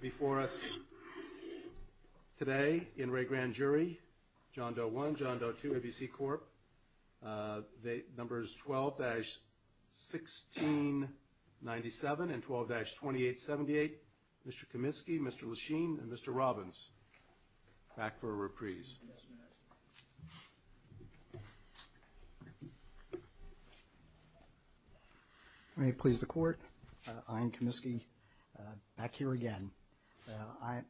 Before us today in Re Grand Jury, John Doe 1, John Doe 2, ABC Corp. Numbers 12-1697 and 12-2878. Mr. Kaminsky, Mr. Lachine, and Mr. Robbins. Back for a reprise. May it please the Court. I am Kaminsky. Back here again.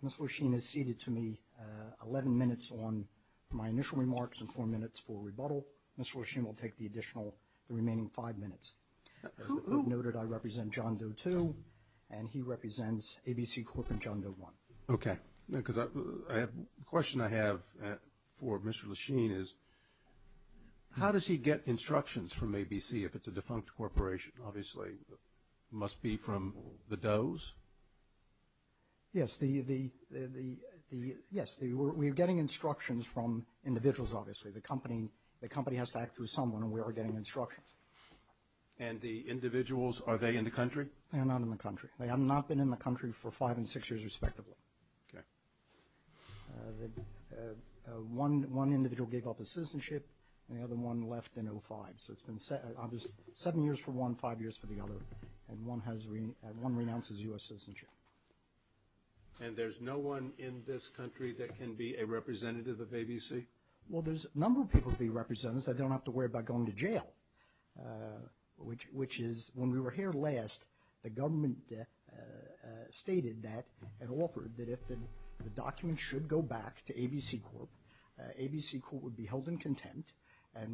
Mr. Lachine has ceded to me 11 minutes on my initial remarks and four minutes for rebuttal. Mr. Lachine will take the additional remaining five minutes. As noted, I represent John Doe 2, and he represents ABC Corp. and John Doe 1. Okay. The question I have for Mr. Lachine is how does he get instructions from ABC if it's a defunct corporation? Obviously, it must be from the Does. Yes, we're getting instructions from individuals, obviously. The company has to act through someone, and we are getting instructions. And the individuals, are they in the country? They are not in the country. They have not been in the country for five and six years, respectively. One individual gave up his citizenship, and the other one left in 2005. So it's been seven years for one, five years for the other, and one renounces U.S. citizenship. And there's no one in this country that can be a representative of ABC? Well, there's a number of people to be representatives that don't have to worry about going to jail, which is when we were here last, the government stated that and offered that if the documents should go back to ABC Corp.,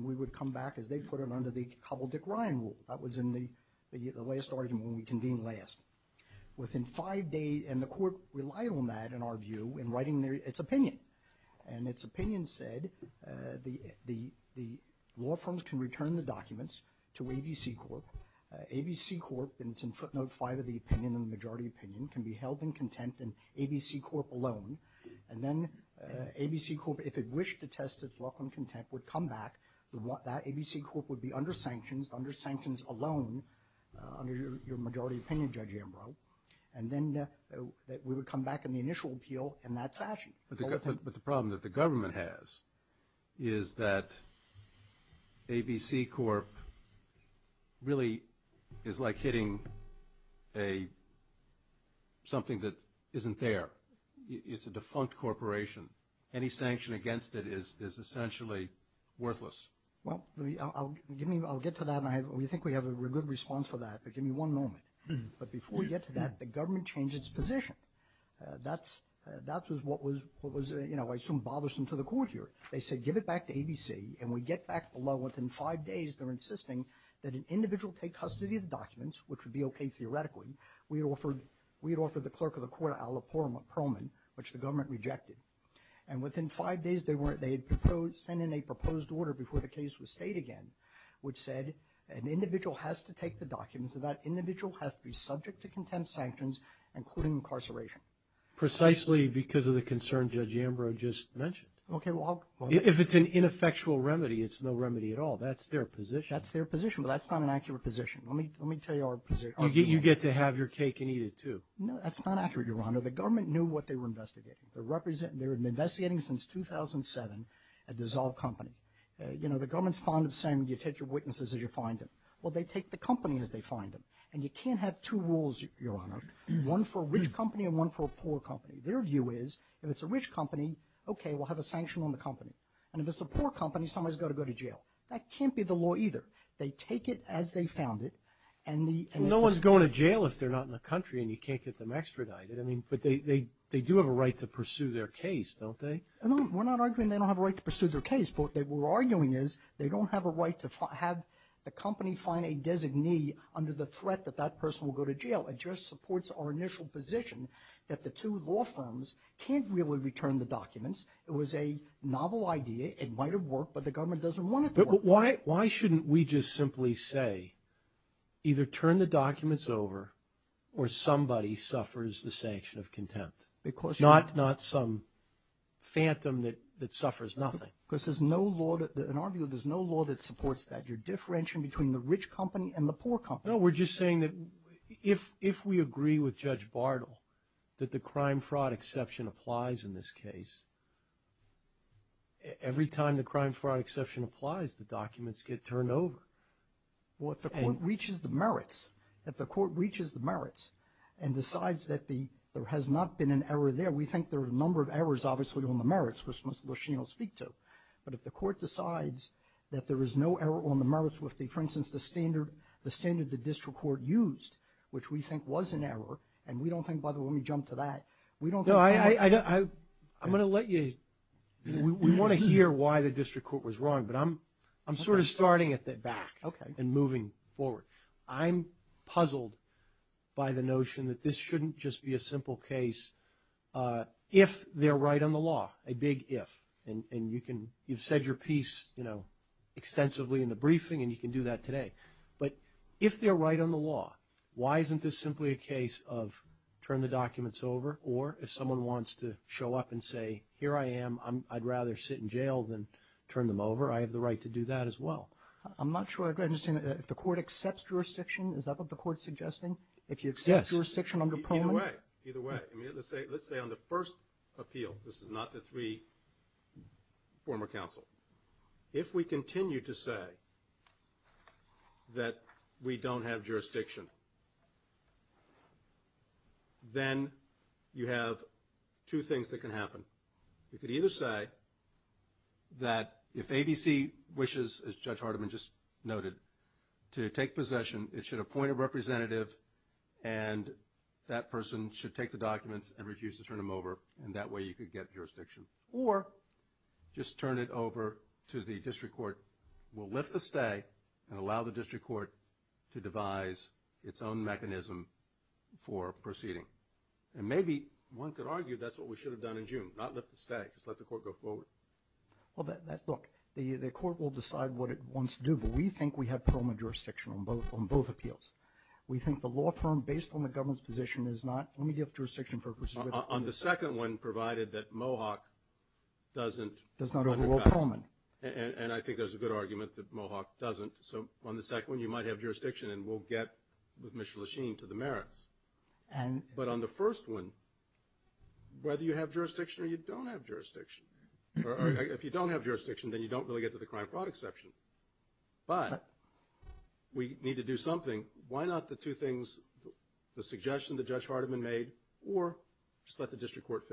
we would come back as they put it under the Cobbledick-Ryan rule. That was in the last argument when we convened last. Within five days, and the court relied on that, in our view, in writing its opinion. And its opinion said the law firms can return the documents to ABC Corp. ABC Corp., and it's in footnote 5 of the opinion, the majority opinion, can be held in contempt in ABC Corp. alone. And then ABC Corp., if it wished to test its law firm contempt, would come back. That ABC Corp. would be under sanctions, under sanctions alone, under your majority opinion, Judge Ambrose. And then we would come back in the initial appeal in that fashion. But the problem that the government has is that ABC Corp. really is like hitting something that isn't there. It's a defunct corporation. Any sanction against it is essentially worthless. Well, I'll get to that, and we think we have a good response for that, but give me one moment. But before we get to that, the government changed its position. That was what was, I assume, bothersome to the court here. They said give it back to ABC, and we get back below within five days, they're insisting that an individual take custody of the documents, which would be okay theoretically. We had offered the clerk of the court a la Perlman, which the government rejected. And within five days, they had sent in a proposed order before the case was stayed again, which said an individual has to take the documents, and that individual has to be subject to contempt sanctions, including incarceration. Precisely because of the concern Judge Ambrose just mentioned. Okay. If it's an ineffectual remedy, it's no remedy at all. That's their position. That's their position, but that's not an accurate position. Let me tell you our position. You get to have your cake and eat it, too. No, that's not accurate, Your Honor. The government knew what they were investigating. They were investigating since 2007 a dissolved company. You know, the government's fond of saying you take your witnesses as you find them. Well, they take the company as they find them. And you can't have two rules, Your Honor, one for a rich company and one for a poor company. Their view is if it's a rich company, okay, we'll have a sanction on the company. And if it's a poor company, somebody's got to go to jail. That can't be the law either. They take it as they found it, and the ‑‑ Well, no one's going to jail if they're not in the country and you can't get them extradited. I mean, but they do have a right to pursue their case, don't they? No, we're not arguing they don't have a right to pursue their case. What they were arguing is they don't have a right to have the company find a designee under the threat that that person will go to jail. It just supports our initial position that the two law firms can't really return the documents. It was a novel idea. It might have worked, but the government doesn't want it to work. But why shouldn't we just simply say either turn the documents over or somebody suffers the sanction of contempt, not some phantom that suffers nothing? Because there's no law that ‑‑ in our view, there's no law that supports that. You're differentiating between the rich company and the poor company. No, we're just saying that if we agree with Judge Bardell that the crime fraud exception applies in this case, every time the crime fraud exception applies, the documents get turned over. Well, if the court reaches the merits, if the court reaches the merits and decides that there has not been an error there, we think there are a number of errors, obviously, on the merits, which she'll speak to. But if the court decides that there is no error on the merits with, for instance, the standard the district court used, which we think was an error, and we don't think ‑‑ by the way, let me jump to that. We don't think ‑‑ No, I'm going to let you ‑‑ we want to hear why the district court was wrong, but I'm sort of starting at the back and moving forward. I'm puzzled by the notion that this shouldn't just be a simple case if they're right on the law, a big if. And you've said your piece extensively in the briefing, and you can do that today. But if they're right on the law, why isn't this simply a case of turn the documents over? Or if someone wants to show up and say, here I am, I'd rather sit in jail than turn them over, I have the right to do that as well. I'm not sure I understand. If the court accepts jurisdiction, is that what the court is suggesting? Yes. If you accept jurisdiction under Pullman? Either way. Either way. Let's say on the first appeal, this is not the three former counsel. If we continue to say that we don't have jurisdiction, then you have two things that can happen. You could either say that if ABC wishes, as Judge Hardiman just noted, to take possession, it should appoint a representative, and that person should take the documents and refuse to turn them over, and that way you could get jurisdiction. Or just turn it over to the district court. We'll lift the stay and allow the district court to devise its own mechanism for proceeding. And maybe one could argue that's what we should have done in June, not lift the stay, just let the court go forward. Well, look, the court will decide what it wants to do, but we think we have Pullman jurisdiction on both appeals. We think the law firm, based on the government's position, is not going to give jurisdiction purposes. On the second one, provided that Mohawk doesn't undercut. Does not overrule Pullman. And I think there's a good argument that Mohawk doesn't. So on the second one, you might have jurisdiction and we'll get, with Mr. Lachine, to the merits. But on the first one, whether you have jurisdiction or you don't have jurisdiction, or if you don't have jurisdiction, then you don't really get to the crime-fraud exception. But we need to do something. Why not the two things, the suggestion that Judge Hardiman made, or just let the district court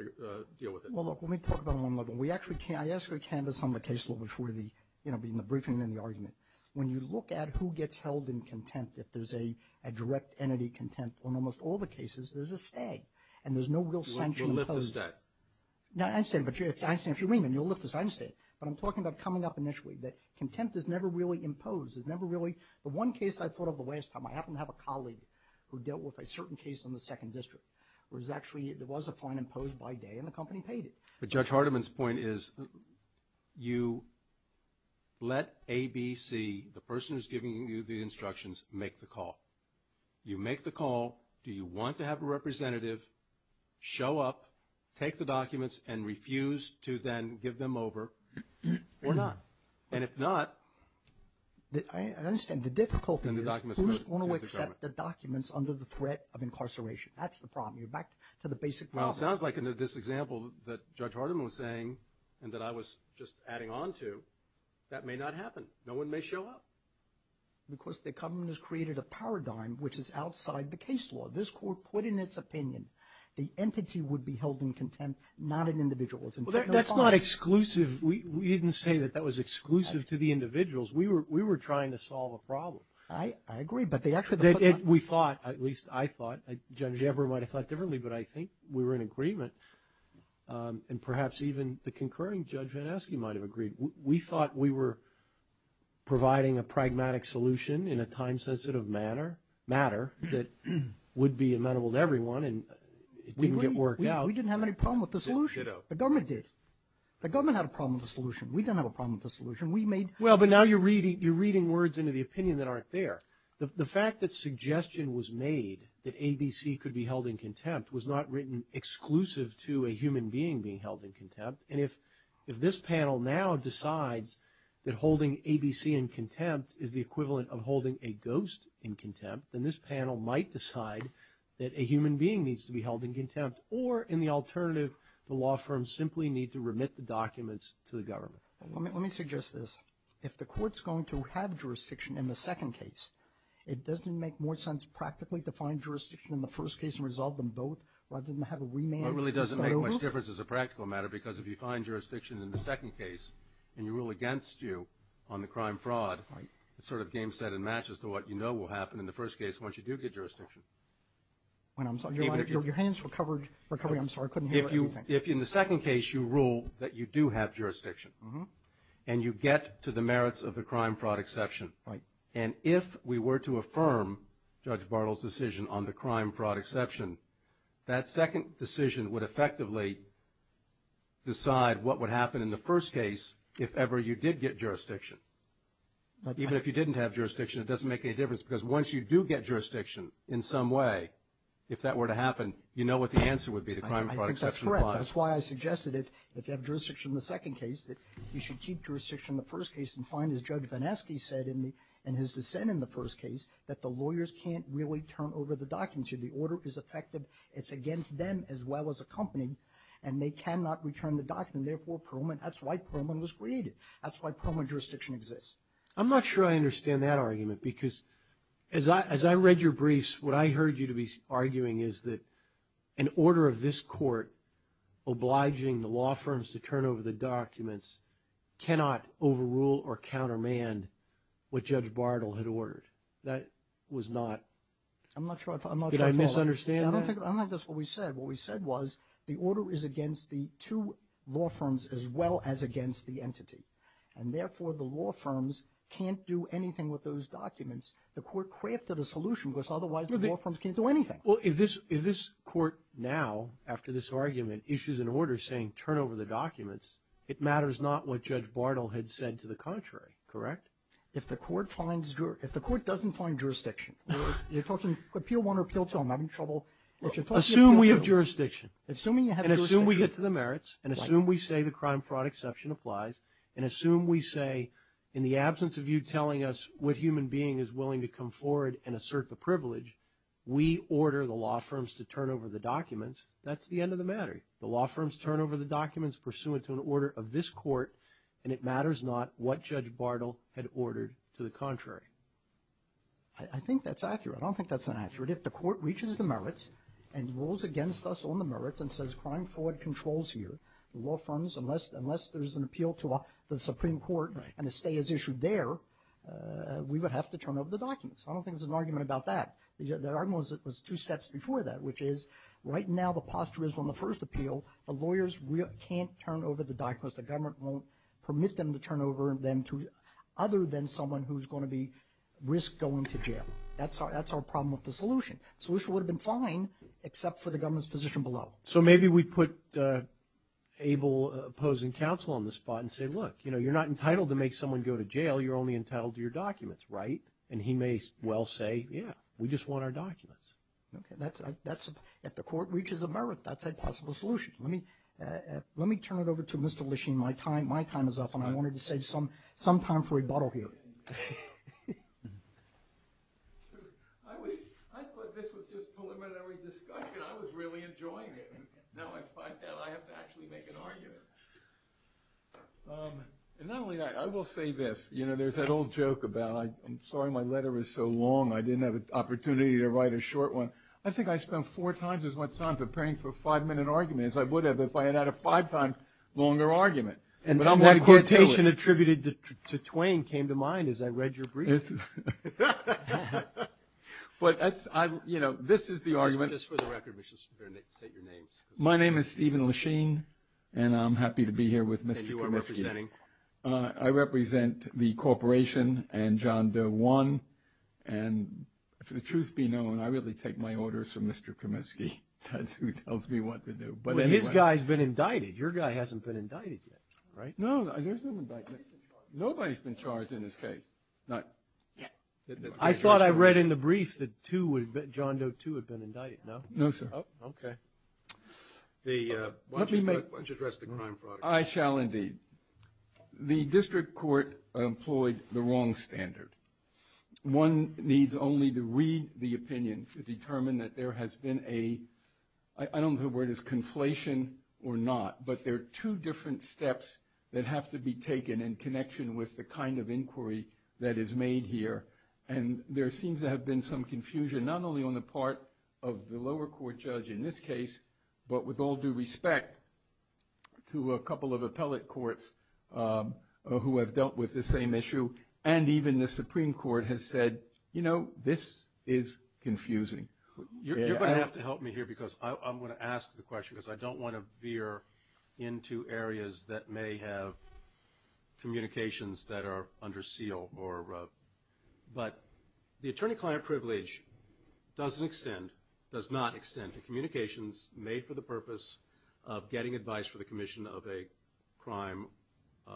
deal with it? Well, look, let me talk about one more thing. I asked for a canvas on the case law before the briefing and the argument. When you look at who gets held in contempt, if there's a direct entity contempt, in almost all the cases, there's a stay. And there's no real sanction imposed. You lift the stay. No, I understand. But I understand if you mean it, you'll lift the stay. But I'm talking about coming up initially, that contempt is never really imposed. It's never really – the one case I thought of the last time, I happened to have a colleague who dealt with a certain case in the second district, where it was actually – there was a fine imposed by day and the company paid it. But Judge Hardiman's point is you let ABC, the person who's giving you the instructions, make the call. You make the call. Do you want to have a representative show up, take the documents, and refuse to then give them over or not? And if not – I understand. The difficulty is who's going to accept the documents under the threat of incarceration? That's the problem. You're back to the basic problem. Well, it sounds like in this example that Judge Hardiman was saying and that I was just adding on to, that may not happen. No one may show up. Because the government has created a paradigm which is outside the case law. This court put in its opinion the entity would be held in contempt, not an individual. Well, that's not exclusive. We didn't say that that was exclusive to the individuals. We were trying to solve a problem. I agree. But they actually – We thought, at least I thought, Judge Eber might have thought differently, but I think we were in agreement, and perhaps even the concurring Judge Van Esky might have agreed. We thought we were providing a pragmatic solution in a time-sensitive matter that would be amenable to everyone, and it didn't get worked out. We didn't have any problem with the solution. The government did. The government had a problem with the solution. We didn't have a problem with the solution. We made – Well, but now you're reading words into the opinion that aren't there. The fact that suggestion was made that ABC could be held in contempt was not written exclusive to a human being being held in contempt, and if this panel now decides that holding ABC in contempt is the equivalent of holding a ghost in contempt, then this panel might decide that a human being needs to be held in contempt, or in the alternative, the law firms simply need to remit the documents to the government. Let me suggest this. If the court's going to have jurisdiction in the second case, it doesn't make more sense practically to find jurisdiction in the first case and resolve them both rather than have a remand. Well, it really doesn't make much difference as a practical matter because if you find jurisdiction in the second case and you rule against you on the crime-fraud, it's sort of game, set, and match as to what you know will happen in the first case once you do get jurisdiction. I'm sorry. Your hands were covered. I'm sorry. I couldn't hear anything. If in the second case you rule that you do have jurisdiction and you get to the merits of the crime-fraud exception, and if we were to affirm Judge Bartle's decision on the crime-fraud exception, that second decision would effectively decide what would happen in the first case if ever you did get jurisdiction. Even if you didn't have jurisdiction, it doesn't make any difference because once you do get jurisdiction in some way, if that were to happen, you know what the answer would be, the crime-fraud exception. I think that's correct. That's why I suggested if you have jurisdiction in the second case that you should keep jurisdiction in the first case and find, as Judge Vanesky said in his dissent in the first case, that the lawyers can't really turn over the documents. If the order is effective, it's against them as well as a company, and they cannot return the document. Therefore, that's why Perlman was created. That's why Perlman jurisdiction exists. I'm not sure I understand that argument because as I read your briefs, what I heard you to be arguing is that an order of this court obliging the law firms to turn over the documents cannot overrule or countermand what Judge Bartle had ordered. That was not… I'm not sure I follow. Did I misunderstand that? I don't think that's what we said. What we said was the order is against the two law firms as well as against the entity, and therefore the law firms can't do anything with those documents. The court crafted a solution because otherwise the law firms can't do anything. Well, if this court now, after this argument, issues an order saying turn over the documents, it matters not what Judge Bartle had said to the contrary. Correct? If the court doesn't find jurisdiction, you're talking appeal one or appeal two. I'm having trouble. Assume we have jurisdiction. Assuming you have jurisdiction. And assume we get to the merits, and assume we say the crime fraud exception applies, and assume we say in the absence of you telling us what human being is willing to come forward and assert the privilege, we order the law firms to turn over the documents, that's the end of the matter. The law firms turn over the documents pursuant to an order of this court, and it matters not what Judge Bartle had ordered to the contrary. I think that's accurate. I don't think that's inaccurate. If the court reaches the merits and rules against us on the merits and says crime fraud controls here, the law firms, unless there's an appeal to the Supreme Court, and a stay is issued there, we would have to turn over the documents. I don't think there's an argument about that. The argument was two steps before that, which is right now the posture is on the first appeal, the lawyers can't turn over the documents. The government won't permit them to turn over them other than someone who's going to risk going to jail. That's our problem with the solution. The solution would have been fine, except for the government's position below. So maybe we put able opposing counsel on the spot and say, look, you're not entitled to make someone go to jail. You're only entitled to your documents, right? And he may well say, yeah, we just want our documents. If the court reaches a merit, that's a possible solution. Let me turn it over to Mr. Lechine. My time is up, and I wanted to save some time for rebuttal here. I thought this was just preliminary discussion. I was really enjoying it. Now I find out I have to actually make an argument. And not only that, I will say this. There's that old joke about, I'm sorry my letter is so long, I didn't have an opportunity to write a short one. I think I spent four times as much time preparing for a five-minute argument as I would have if I had had a five times longer argument. But I'm going to get to it. And that quotation attributed to Twain came to mind as I read your brief. But this is the argument. Just for the record, we should say your names. My name is Stephen Lechine, and I'm happy to be here with Mr. Comiskey. And you are representing? I represent the corporation and John Doe One. And for the truth be known, I really take my orders from Mr. Comiskey. That's who tells me what to do. But his guy's been indicted. Your guy hasn't been indicted yet, right? No, there's no indictment. Nobody's been charged in this case. I thought I read in the brief that John Doe Two had been indicted, no? No, sir. Okay. Why don't you address the crime fraud? I shall, indeed. The district court employed the wrong standard. One needs only to read the opinion to determine that there has been a – I don't know if the word is conflation or not, but there are two different steps that have to be taken in connection with the kind of inquiry that is made here. And there seems to have been some confusion, not only on the part of the lower court judge in this case, but with all due respect to a couple of appellate courts who have dealt with this same issue. And even the Supreme Court has said, you know, this is confusing. You're going to have to help me here because I'm going to ask the question because I don't want to veer into areas that may have communications that are under seal. But the attorney-client privilege doesn't extend – does not extend to communications made for the purpose of getting advice for the commission of a crime, a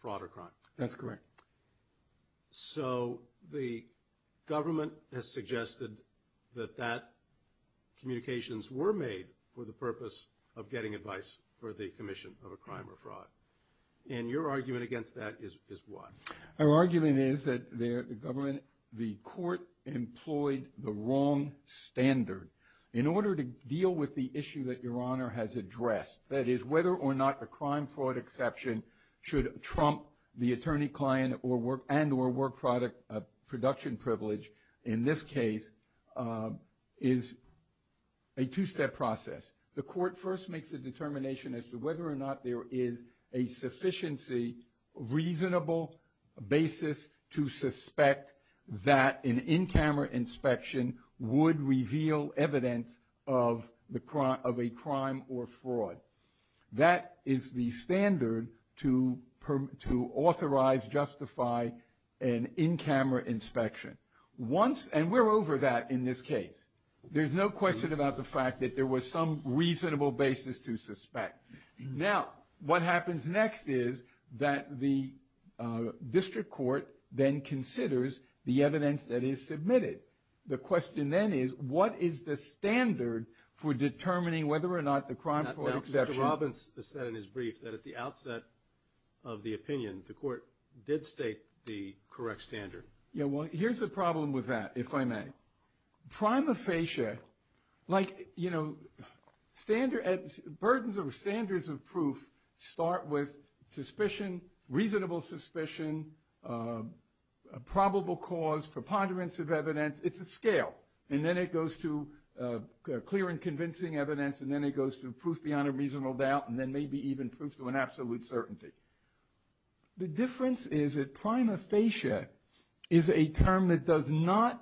fraud or crime. That's correct. So the government has suggested that that communications were made for the purpose of getting advice for the commission of a crime or fraud. And your argument against that is what? Our argument is that the court employed the wrong standard. In order to deal with the issue that Your Honor has addressed, that is whether or not a crime-fraud exception should trump the attorney-client and or work-product production privilege, in this case, is a two-step process. The court first makes a determination as to whether or not there is a sufficiency, reasonable basis to suspect that an in-camera inspection would reveal evidence of a crime or fraud. That is the standard to authorize, justify an in-camera inspection. Once – and we're over that in this case. There's no question about the fact that there was some reasonable basis to suspect. Now, what happens next is that the district court then considers the evidence that is submitted. The question then is what is the standard for determining whether or not the crime-fraud exception – Now, Mr. Robbins has said in his brief that at the outset of the opinion, the court did state the correct standard. Yeah, well, here's the problem with that, if I may. Now, prima facie, like, you know, standard – burdens or standards of proof start with suspicion, reasonable suspicion, probable cause, preponderance of evidence. It's a scale. And then it goes to clear and convincing evidence, and then it goes to proof beyond a reasonable doubt, and then maybe even proof to an absolute certainty. The difference is that prima facie is a term that does not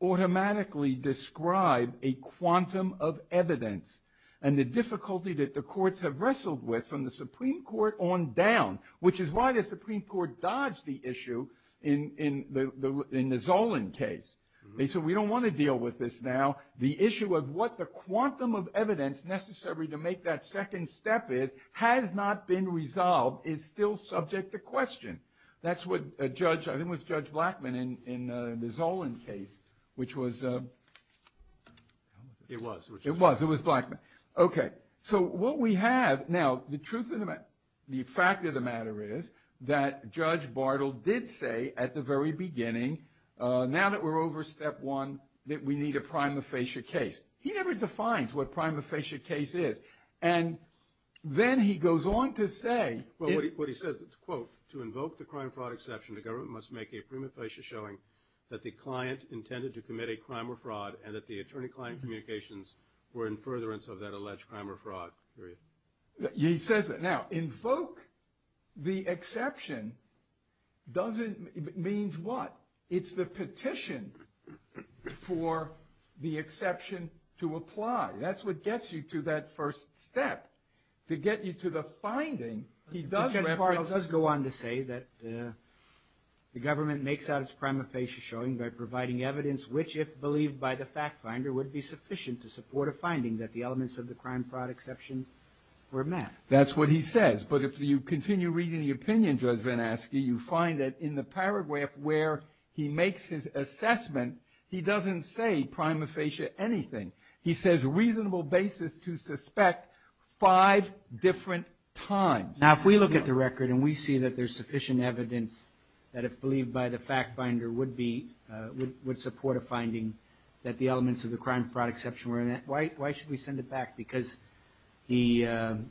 automatically describe a quantum of evidence and the difficulty that the courts have wrestled with from the Supreme Court on down, which is why the Supreme Court dodged the issue in the Zolin case. They said, we don't want to deal with this now. The issue of what the quantum of evidence necessary to make that second step is has not been resolved is still subject to question. That's what Judge – I think it was Judge Blackman in the Zolin case, which was – It was. It was. It was Blackman. Okay. So what we have – now, the truth of the – the fact of the matter is that Judge Bartle did say at the very beginning, now that we're over step one, that we need a prima facie case. He never defines what a prima facie case is. And then he goes on to say – Well, what he says, quote, to invoke the crime or fraud exception, the government must make a prima facie showing that the client intended to commit a crime or fraud and that the attorney-client communications were in furtherance of that alleged crime or fraud. He says that. Now, invoke the exception doesn't – means what? It's the petition for the exception to apply. That's what gets you to that first step. To get you to the finding, he does – But Judge Bartle does go on to say that the government makes out its prima facie showing by providing evidence which, if believed by the fact finder, would be sufficient to support a finding that the elements of the crime or fraud exception were met. That's what he says. But if you continue reading the opinion, Judge Van Aske, you find that in the paragraph where he makes his assessment, he doesn't say prima facie anything. He says reasonable basis to suspect five different times. Now, if we look at the record and we see that there's sufficient evidence that, if believed by the fact finder, would be – would support a finding that the elements of the crime or fraud exception were met, why should we send it back? Because he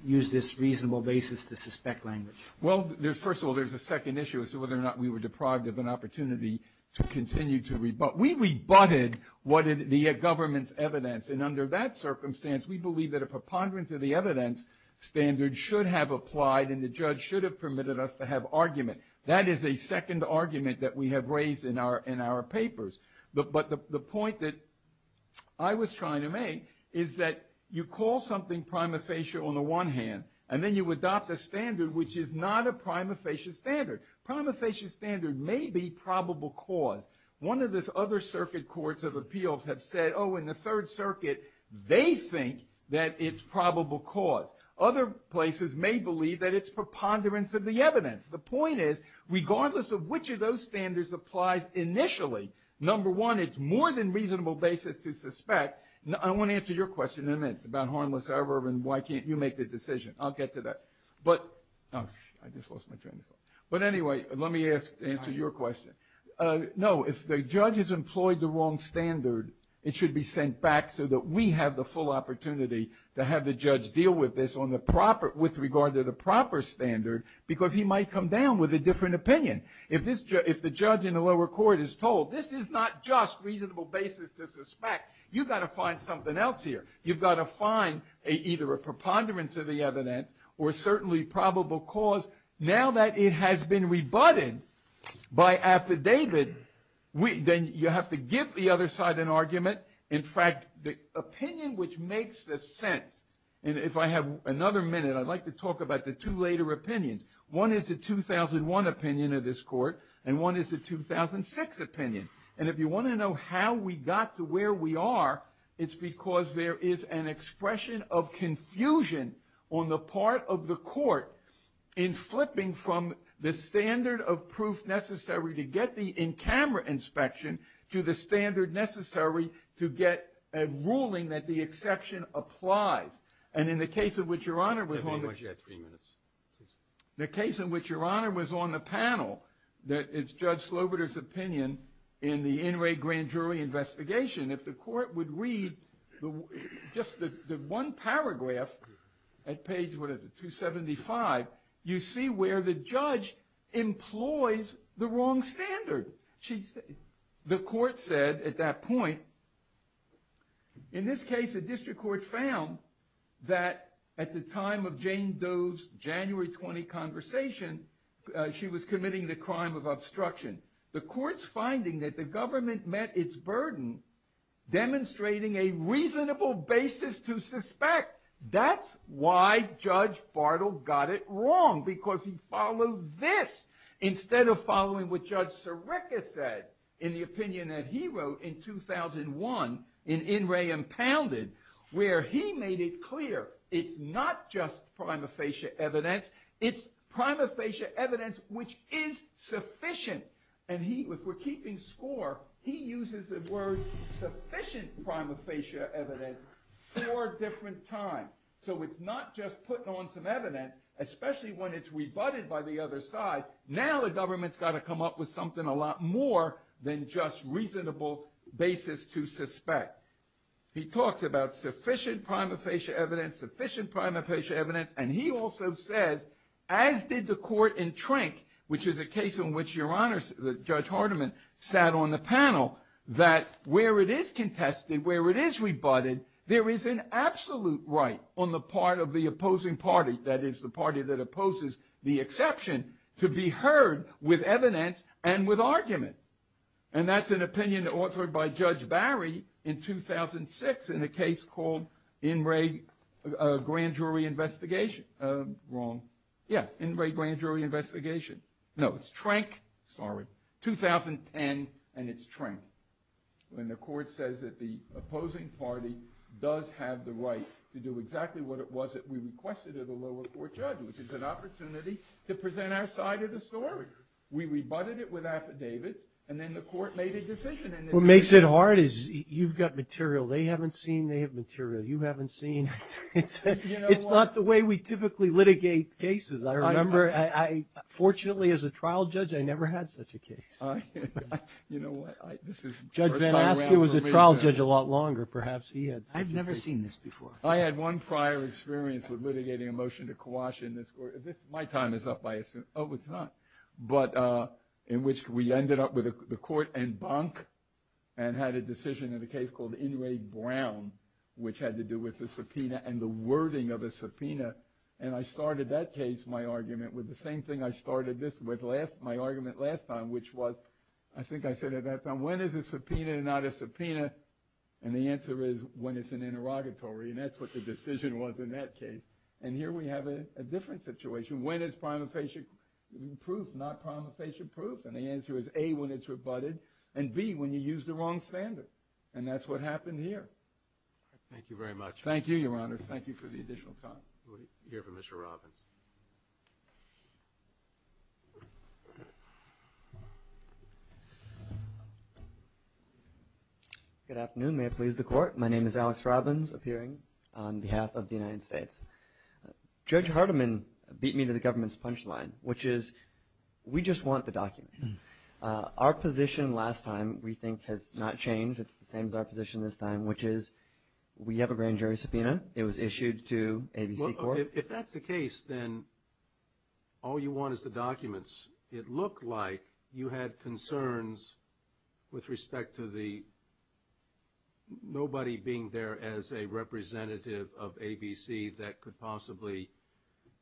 used this reasonable basis to suspect language. Well, first of all, there's a second issue as to whether or not we were deprived of an opportunity to continue to rebut. We rebutted what the government's evidence, and under that circumstance, we believe that a preponderance of the evidence standard should have applied and the judge should have permitted us to have argument. That is a second argument that we have raised in our papers. But the point that I was trying to make is that you call something prima facie on the one hand, and then you adopt a standard which is not a prima facie standard. Prima facie standard may be probable cause. One of the other circuit courts of appeals have said, oh, in the Third Circuit, they think that it's probable cause. Other places may believe that it's preponderance of the evidence. The point is, regardless of which of those standards applies initially, number one, it's more than reasonable basis to suspect. I want to answer your question in a minute about harmless error and why can't you make the decision. I'll get to that. But anyway, let me answer your question. No, if the judge has employed the wrong standard, it should be sent back so that we have the full opportunity to have the judge deal with this with regard to the proper standard because he might come down with a different opinion. If the judge in the lower court is told this is not just reasonable basis to suspect, you've got to find something else here. You've got to find either a preponderance of the evidence or certainly probable cause. Now that it has been rebutted by affidavit, then you have to give the other side an argument. In fact, the opinion which makes the sense, and if I have another minute, I'd like to talk about the two later opinions. One is the 2001 opinion of this court and one is the 2006 opinion. And if you want to know how we got to where we are, it's because there is an expression of confusion on the part of the court in flipping from the standard of proof necessary to get the in-camera inspection to the standard necessary to get a ruling that the exception applies. And in the case in which Your Honor was on the panel, it's Judge Slobiter's opinion in the In re Grand Jury investigation, if the court would read just the one paragraph at page 275, you see where the judge employs the wrong standard. The court said at that point, in this case the district court found that at the time of Jane Doe's January 20 conversation, she was committing the crime of obstruction. The court's finding that the government met its burden demonstrating a reasonable basis to suspect. That's why Judge Bartle got it wrong, because he followed this instead of following what Judge Sirica said in the opinion that he wrote in 2001 in In re Impounded, where he made it clear it's not just prima facie evidence, it's prima facie evidence which is sufficient. And if we're keeping score, he uses the word sufficient prima facie evidence four different times. So it's not just putting on some evidence, especially when it's rebutted by the other side. Now the government's got to come up with something a lot more than just reasonable basis to suspect. He talks about sufficient prima facie evidence, sufficient prima facie evidence, and he also says, as did the court in Trank, which is a case in which Your Honor, Judge Hardiman, sat on the panel, that where it is contested, where it is rebutted, there is an absolute right on the part of the opposing party, that is, the party that opposes the exception, to be heard with evidence and with argument. And that's an opinion authored by Judge Barry in 2006 in a case called In re Grand Jury Investigation. Wrong. Yeah, In re Grand Jury Investigation. No, it's Trank. Sorry. 2010, and it's Trank. And the court says that the opposing party does have the right to do exactly what it was that we requested of the lower court judge, which is an opportunity to present our side of the story. We rebutted it with affidavits, and then the court made a decision. What makes it hard is you've got material. They haven't seen. They have material. You haven't seen. It's not the way we typically litigate cases. I remember, fortunately, as a trial judge, I never had such a case. Judge Van Aske was a trial judge a lot longer. Perhaps he had such a case. I had one prior experience with litigating a motion to quash in this court. My time is up, I assume. Oh, it's not. But in which we ended up with the court in bunk and had a decision in a case called In re Brown, which had to do with the subpoena and the wording of a subpoena. And I started that case, my argument, with the same thing I started this with, my argument last time, which was, I think I said it that time, when is a subpoena not a subpoena? And the answer is when it's an interrogatory, and that's what the decision was in that case. And here we have a different situation. When is prima facie proof not prima facie proof? And the answer is A, when it's rebutted, and B, when you use the wrong standard. And that's what happened here. Thank you very much. Thank you, Your Honors. Thank you for the additional time. We'll hear from Mr. Robbins. Good afternoon. May it please the Court. My name is Alex Robbins, appearing on behalf of the United States. Judge Hardiman beat me to the government's punchline, which is we just want the documents. Our position last time, we think, has not changed. It's the same as our position this time, which is we have a grand jury subpoena. It was issued to ABC Court. If that's the case, then all you want is the documents. It looked like you had concerns with respect to the nobody being there as a representative of ABC that could possibly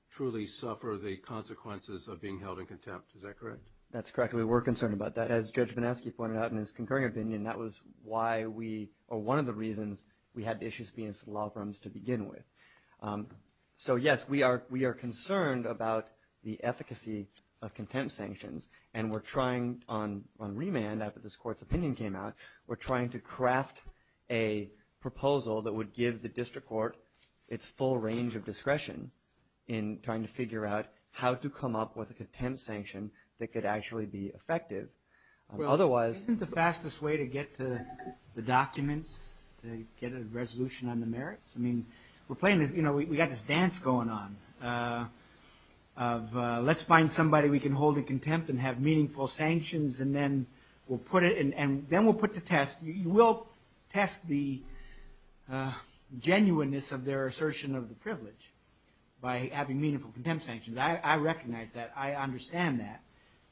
truly suffer the consequences of being held in contempt. Is that correct? That's correct. We were concerned about that. As Judge Benesky pointed out in his concurring opinion, that was why we, or one of the reasons we had issues being in civil law firms to begin with. Yes, we are concerned about the efficacy of contempt sanctions, and we're trying on remand, after this Court's opinion came out, we're trying to craft a proposal that would give the district court its full range of discretion in trying to figure out how to come up with a contempt sanction that could actually be effective. Isn't the fastest way to get to the documents, to get a resolution on the merits? I mean, we got this dance going on of let's find somebody we can hold in contempt and have meaningful sanctions, and then we'll put the test. You will test the genuineness of their assertion of the privilege by having meaningful contempt sanctions. I recognize that. I understand that.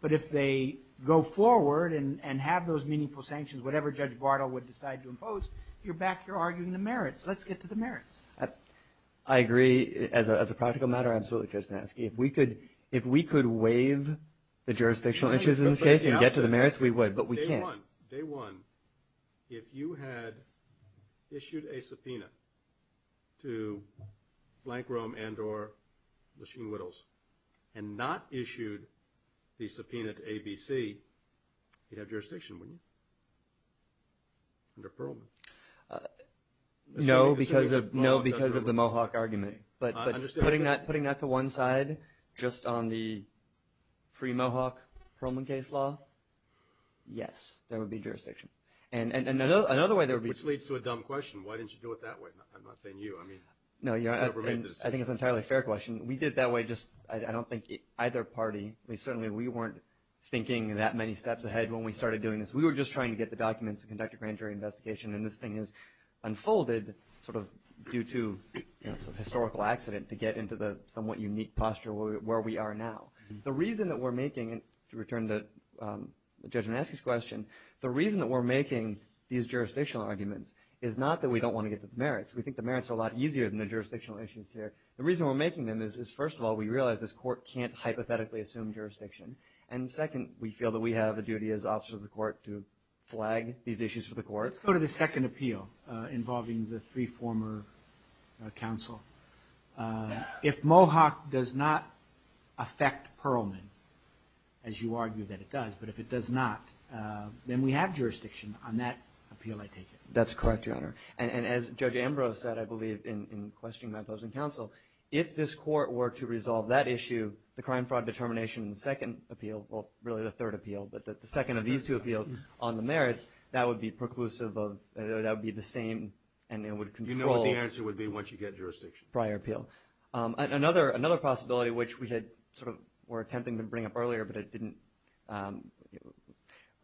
But if they go forward and have those meaningful sanctions, whatever Judge Bartle would decide to impose, you're back here arguing the merits. Let's get to the merits. I agree. As a practical matter, absolutely, Judge Banansky. If we could waive the jurisdictional issues in this case and get to the merits, we would, but we can't. Day one, if you had issued a subpoena to Blank Rome and or Machine Whittles and not issued the subpoena to ABC, you'd have jurisdiction, wouldn't you, under Perlman? No, because of the Mohawk argument. But putting that to one side, just on the pre-Mohawk Perlman case law, yes, there would be jurisdiction. Which leads to a dumb question. Why didn't you do it that way? I'm not saying you. No, I think it's an entirely fair question. We did it that way. I don't think either party, certainly we weren't thinking that many steps ahead when we started doing this. We were just trying to get the documents to conduct a grand jury investigation. And this thing has unfolded due to a historical accident to get into the somewhat unique posture where we are now. The reason that we're making, to return to Judge Banansky's question, the reason that we're making these jurisdictional arguments is not that we don't want to get to the merits. We think the merits are a lot easier than the jurisdictional issues here. The reason we're making them is, first of all, assume jurisdiction. And second, we feel that we have a duty as officers of the court to flag these issues for the court. Let's go to the second appeal involving the three former counsel. If Mohawk does not affect Perlman, as you argue that it does, but if it does not, then we have jurisdiction on that appeal, I take it. That's correct, Your Honor. And as Judge Ambrose said, I believe, in questioning my opposing counsel, if this court were to resolve that issue, the crime fraud determination in the second appeal, well, really the third appeal, but the second of these two appeals on the merits, that would be preclusive of, that would be the same, and it would control. You know what the answer would be once you get jurisdiction. Prior appeal. Another possibility, which we had sort of, were attempting to bring up earlier, but it didn't,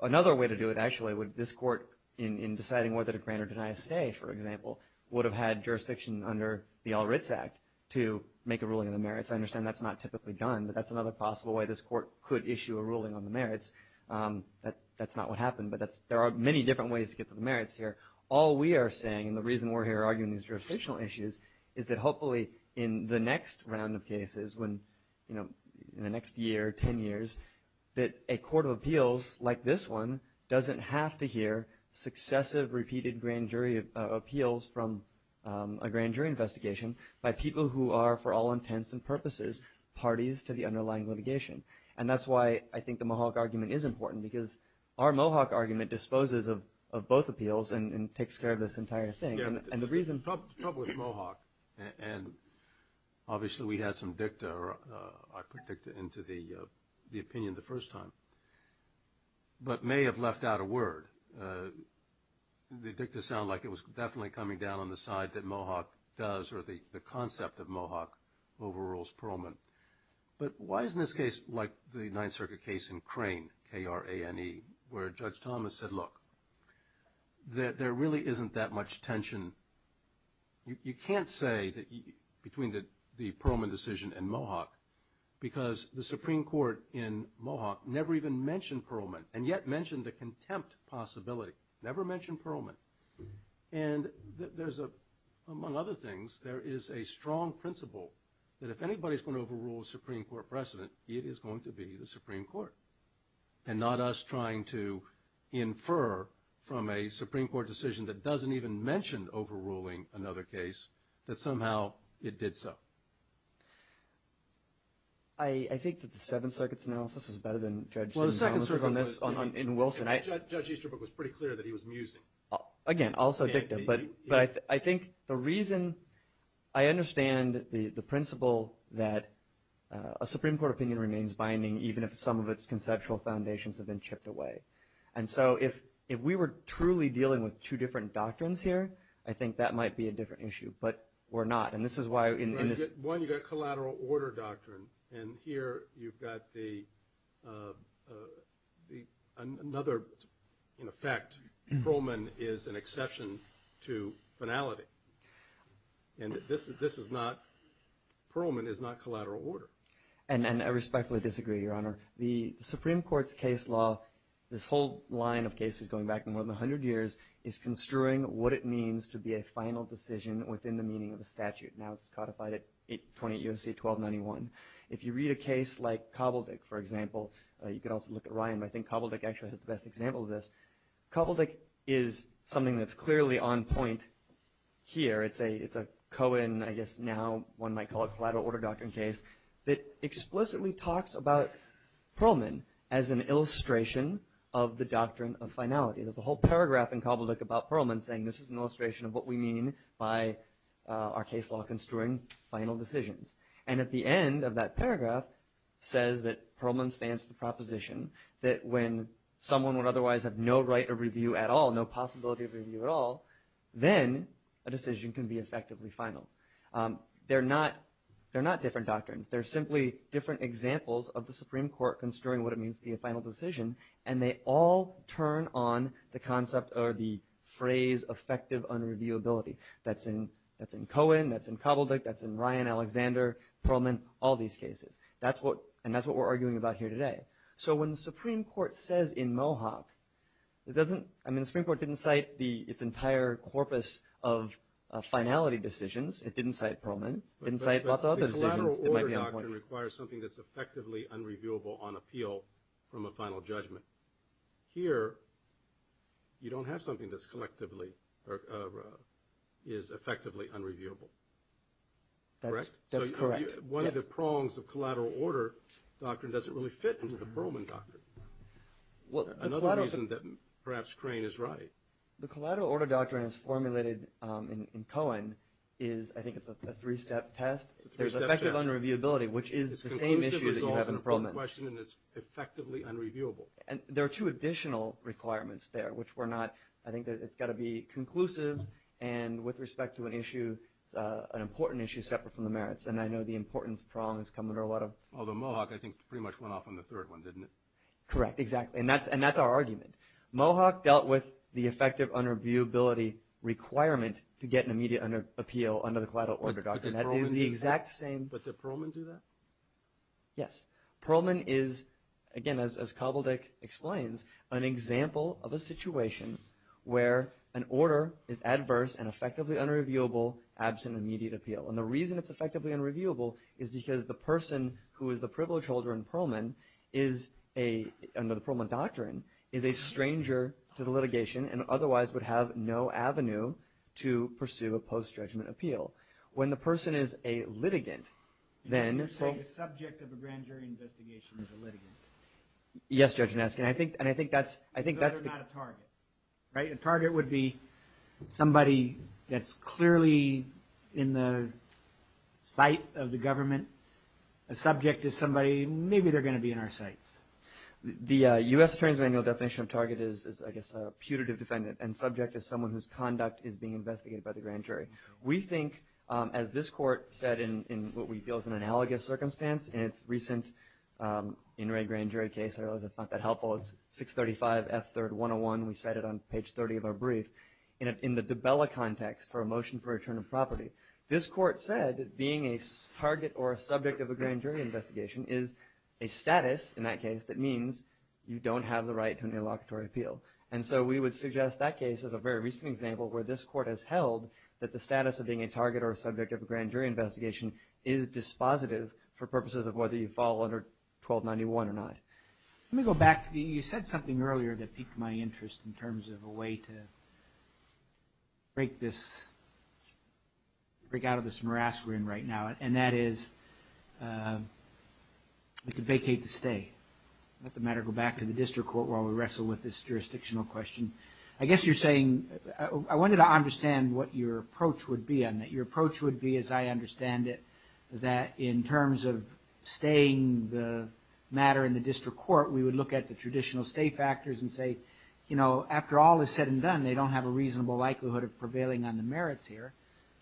another way to do it, actually, would this court, in deciding whether to grant or deny a stay, for example, would have had jurisdiction under the All Writs Act to make a ruling on the merits. but that's another possible way this court could issue a ruling on the merits. That's not what happened, but there are many different ways to get to the merits here. All we are saying, and the reason we're here arguing these jurisdictional issues, is that hopefully in the next round of cases, in the next year, 10 years, that a court of appeals like this one doesn't have to hear successive, repeated grand jury appeals from a grand jury investigation by people who are, for all intents and purposes, parties to the underlying litigation. And that's why I think the Mohawk argument is important, because our Mohawk argument disposes of both appeals and takes care of this entire thing. And the reason... The trouble with Mohawk, and obviously we had some dicta, I predict, into the opinion the first time, but may have left out a word. The dicta sounded like it was definitely coming down on the side that Mohawk does, or the concept of Mohawk overrules Perlman. But why isn't this case, like the Ninth Circuit case in Crane, K-R-A-N-E, where Judge Thomas said, look, there really isn't that much tension. You can't say, between the Perlman decision and Mohawk, because the Supreme Court in Mohawk never even mentioned Perlman, and yet mentioned the contempt possibility. Never mentioned Perlman. And there's a, among other things, there is a strong principle that if anybody's going to overrule a Supreme Court precedent, it is going to be the Supreme Court. And not us trying to infer from a Supreme Court decision that doesn't even mention overruling another case, that somehow it did so. I think that the Seventh Circuit's analysis is better than Judge... Well, the Seventh Circuit's analysis... In Wilson, I... Judge Easterbrook was pretty clear that he was musing. Again, also dicta. But I think the reason... The principle that a Supreme Court opinion remains binding even if some of its conceptual foundations have been chipped away. And so if we were truly dealing with two different doctrines here, I think that might be a different issue. But we're not. And this is why in this... One, you've got collateral order doctrine. And here you've got the... Another, in effect, Perlman is an exception to finality. And this is not... Perlman is not collateral order. And I respectfully disagree, Your Honor. The Supreme Court's case law, this whole line of cases going back more than 100 years, is construing what it means to be a final decision within the meaning of a statute. Now it's codified at 28 U.S.C. 1291. If you read a case like Koboldick, for example, you can also look at Ryan, but I think Koboldick actually has the best example of this. Koboldick is something that's clearly on point here. It's a Cohen, I guess now one might call it, collateral order doctrine case that explicitly talks about Perlman as an illustration of the doctrine of finality. There's a whole paragraph in Koboldick about Perlman saying this is an illustration of what we mean by our case law construing final decisions. And at the end of that paragraph says that Perlman stands to the proposition that when someone would otherwise have no right of review at all, no possibility of review at all, then a decision can be effectively final. They're not different doctrines. They're simply different examples of the Supreme Court construing what it means to be a final decision and they all turn on the concept or the phrase effective unreviewability. That's in Cohen, that's in Koboldick, that's in Ryan, Alexander, Perlman, all these cases. And that's what we're arguing about here today. So when the Supreme Court says in Mohawk, I mean the Supreme Court didn't cite its entire corpus of finality decisions. It didn't cite Perlman, it didn't cite lots of other decisions. It might be on point. The collateral order doctrine requires something that's effectively unreviewable on appeal from a final judgment. Here, you don't have something that's collectively or is effectively unreviewable. Correct? That's correct. One of the prongs of collateral order doctrine doesn't really fit into the Perlman doctrine. Another reason that perhaps Crane is right. The collateral order doctrine is formulated in Cohen is, I think it's a three-step test. It's a three-step test. There's effective unreviewability, which is the same issue that you have in Perlman. It's a conclusive result of the Perlman question and it's effectively unreviewable. There are two additional requirements there, which were not, I think it's got to be conclusive and with respect to an issue, an important issue separate from the merits. And I know the importance of prongs come under a lot of... Although Mohawk, I think, pretty much went off on the third one, didn't it? Correct, exactly. And that's our argument. Mohawk dealt with the effective unreviewability requirement to get an immediate appeal under the collateral order doctrine. That is the exact same... But did Perlman do that? Yes. Perlman is, again, as Kobeldich explains, an example of a situation where an order is adverse and effectively unreviewable absent immediate appeal. And the reason it's effectively unreviewable is because the person who is the privilege holder in Perlman is a, under the Perlman doctrine, is a stranger to the litigation and otherwise would have no avenue to pursue a post-judgment appeal. When the person is a litigant, then... You're saying the subject of a grand jury investigation is a litigant? Yes, Judge Naskin. And I think that's... A judge is not a target, right? A target would be somebody that's clearly in the sight of the government, a subject is somebody... Maybe they're going to be in our sights. The U.S. Attorney's Manual definition of target is, I guess, a putative defendant and subject is someone whose conduct is being investigated by the grand jury. We think, as this court said in what we feel is an analogous circumstance in its recent In Re Grand Jury case, I realize it's not that helpful. It's 635 F. 3rd. 101. In the Dubella context for a motion for return of property, this court said being a target or a subject of a grand jury investigation is a status, in that case, that means you don't have the right to an interlocutory appeal. And so we would suggest that case as a very recent example where this court has held that the status of being a target or a subject of a grand jury investigation is dispositive for purposes of whether you fall under 1291 or not. Let me go back. You said something earlier that piqued my interest in terms of a way to break this... Break out of this morass we're in right now, and that is we could vacate the stay. Let the matter go back to the district court while we wrestle with this jurisdictional question. I guess you're saying... I wanted to understand what your approach would be on that. Your approach would be, as I understand it, that in terms of staying the matter in the district court, we would look at the traditional stay factors and say, you know, after all is said and done, they don't have a reasonable likelihood of prevailing on the merits here.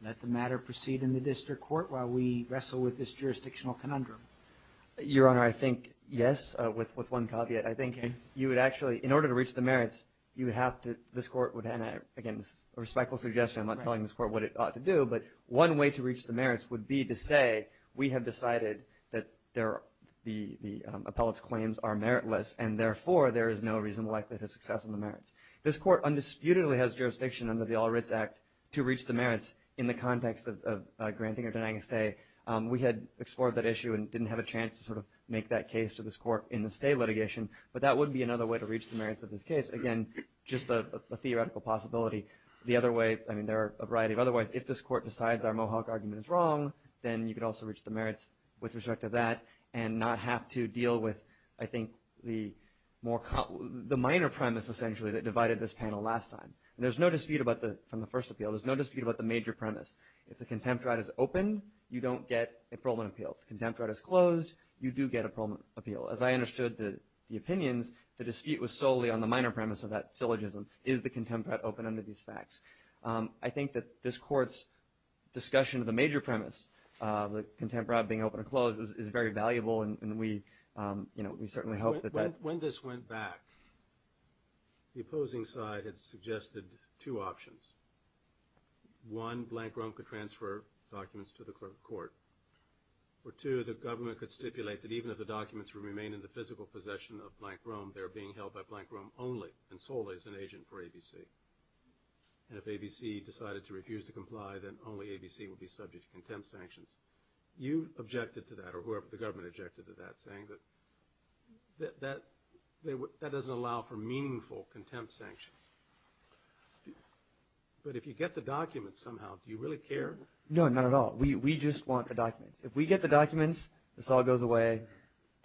Let the matter proceed in the district court while we wrestle with this jurisdictional conundrum. Your Honor, I think yes, with one caveat. I think you would actually... In order to reach the merits, you would have to... This court would have to... Again, this is a respectful suggestion. I'm not telling this court what it ought to do, but one way to reach the merits would be to say, we have decided that the appellate's claims are meritless, and therefore, there is no reasonable likelihood of success on the merits. This court undisputedly has jurisdiction under the All Writs Act to reach the merits in the context of granting or denying a stay. We had explored that issue and didn't have a chance to sort of make that case to this court in the stay litigation, but that would be another way to reach the merits of this case. Again, just a theoretical possibility. The other way... I mean, there are a variety of other ways. If this court decides our Mohawk argument is wrong, then you could also reach the merits with respect to that and not have to deal with, I think, the minor premise, essentially, that divided this panel last time. There's no dispute about the... From the first appeal, there's no dispute about the major premise. If the contempt right is open, you don't get a parolement appeal. If the contempt right is closed, you do get a parolement appeal. As I understood the opinions, the dispute was solely on the minor premise of that syllogism. Is the contempt right open under these facts? I think that this court's discussion of the major premise, the contempt right being open or closed, is very valuable, and we certainly hope that... When this went back, the opposing side had suggested two options. One, Blank Rome could transfer documents to the court. Or two, the government could stipulate that even if the documents would remain in the physical possession of Blank Rome, they're being held by Blank Rome only and solely as an agent for ABC. And if ABC decided to refuse to comply, then only ABC would be subject to contempt sanctions. You objected to that, or whoever the government objected to that, saying that that doesn't allow for meaningful contempt sanctions. But if you get the documents somehow, do you really care? No, not at all. We just want the documents. If we get the documents, this all goes away,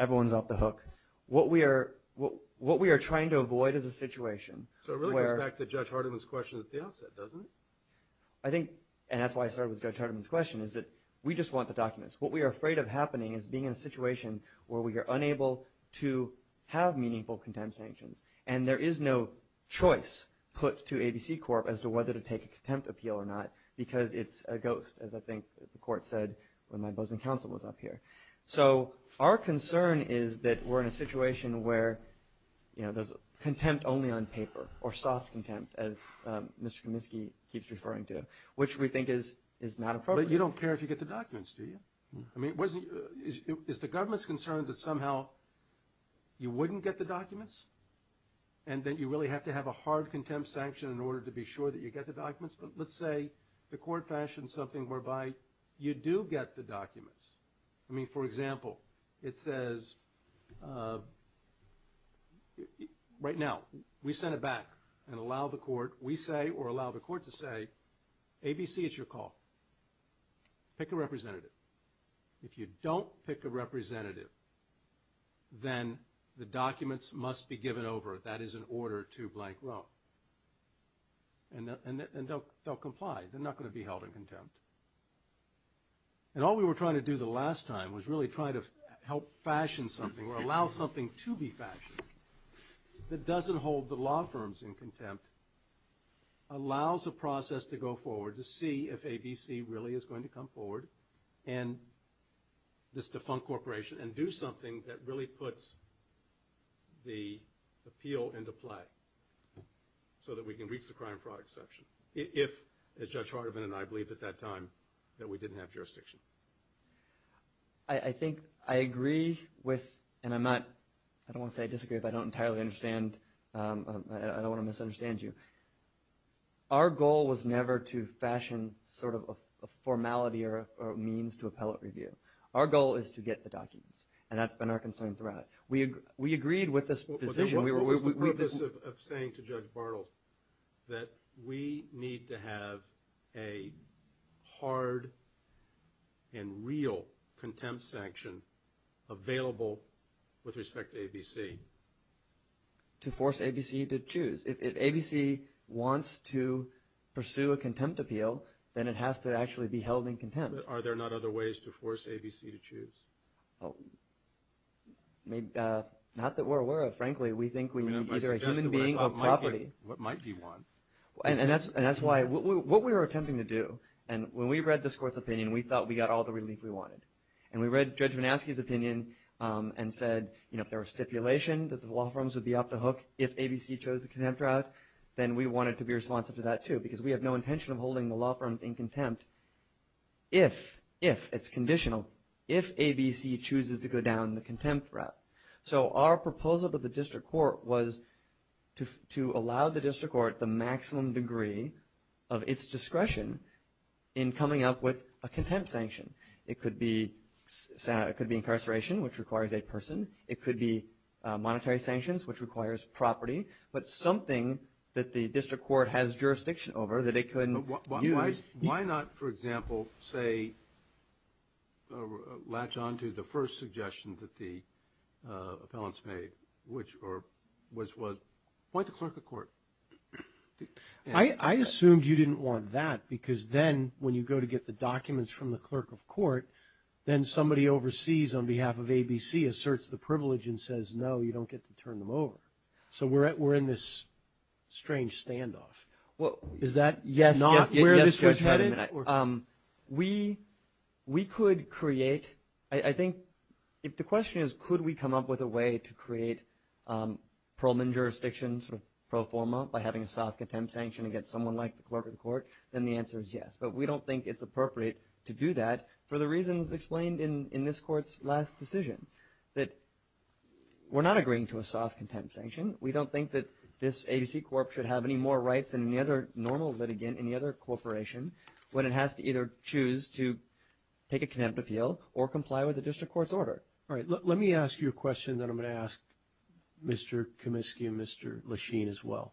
everyone's off the hook. What we are trying to avoid is a situation where... So it really goes back to Judge Hardiman's question at the outset, doesn't it? I think, and that's why I started with Judge Hardiman's question, is that we just want the documents. What we are afraid of happening is being in a situation where we are unable to have meaningful contempt sanctions. And there is no choice put to ABC Corp as to whether to take a contempt appeal or not, because it's a ghost, as I think the court said when my opposing counsel was up here. So our concern is that we're in a situation where there's contempt only on paper, or soft contempt, as Mr. Kaminsky keeps referring to, which we think is not appropriate. But you don't care if you get the documents, do you? I mean, is the government concerned that somehow you wouldn't get the documents? And that you really have to have a hard contempt sanction in order to be sure that you get the documents? But let's say the court fashioned something whereby you do get the documents. I mean, for example, it says... Right now, we send it back and allow the court, we say, or allow the court to say, ABC, it's your call. Pick a representative. If you don't pick a representative, then the documents must be given over. That is an order to blank row. And they'll comply. They're not going to be held in contempt. And all we were trying to do the last time was really try to help fashion something or allow something to be fashioned that doesn't hold the law firms in contempt, allows a process to go forward to see if ABC really is going to come forward and this defunct corporation and do something that really puts the appeal into play so that we can reach the crime fraud exception. If, as Judge Hardeman and I believe at that time, that we didn't have jurisdiction. I think I agree with, and I'm not, I don't want to say I disagree, but I don't entirely understand. I don't want to misunderstand you. Our goal was never to fashion sort of a formality or a means to appellate review. Our goal is to get the documents. And that's been our concern throughout. We agreed with this position. What was the purpose of saying to Judge Bartle that we need to have a hard and real contempt sanction available with respect to ABC? To force ABC to choose. If ABC wants to pursue a contempt appeal, then it has to actually be held in contempt. But are there not other ways to force ABC to choose? Not that we're aware of, frankly. We think we need either a human being or property. What might be one. And that's why, what we were attempting to do, and when we read this Court's opinion, we thought we got all the relief we wanted. And we read Judge Vanaski's opinion and said, you know, if there were stipulation that the law firms would be off the hook if ABC chose the contempt route, then we wanted to be responsive to that too. Because we have no intention of holding the law firms in contempt if, if, it's conditional, if ABC chooses to go down the contempt route. So our proposal to the District Court was to allow the District Court the maximum degree of its discretion in coming up with a contempt sanction. It could be incarceration, which requires a person. It could be monetary sanctions, which requires property. But something that the District Court has jurisdiction over that it couldn't use. Why not, for example, say, latch on to the first suggestion that the appellants made, which was, why the clerk of court? I assumed you didn't want that, because then when you go to get the documents from the clerk of court, then somebody overseas on behalf of ABC asserts the privilege and says, no, you don't get to turn them over. So we're in this strange standoff. Well, is that not where the District Court is headed? We, we could create, I think, if the question is, could we come up with a way to create Pearlman jurisdiction, sort of pro forma, by having a soft contempt sanction against someone like the clerk of the court, then the answer is yes. But we don't think it's appropriate to do that for the reasons explained in this Court's last decision. That we're not agreeing to a soft contempt sanction. We don't think that this ABC Corp should have any more rights than any other normal litigant in any other corporation when it has to either choose to take a contempt appeal or comply with the District Court's order. All right, let me ask you a question that I'm going to ask Mr. Comiskey and Mr. Lesheen as well.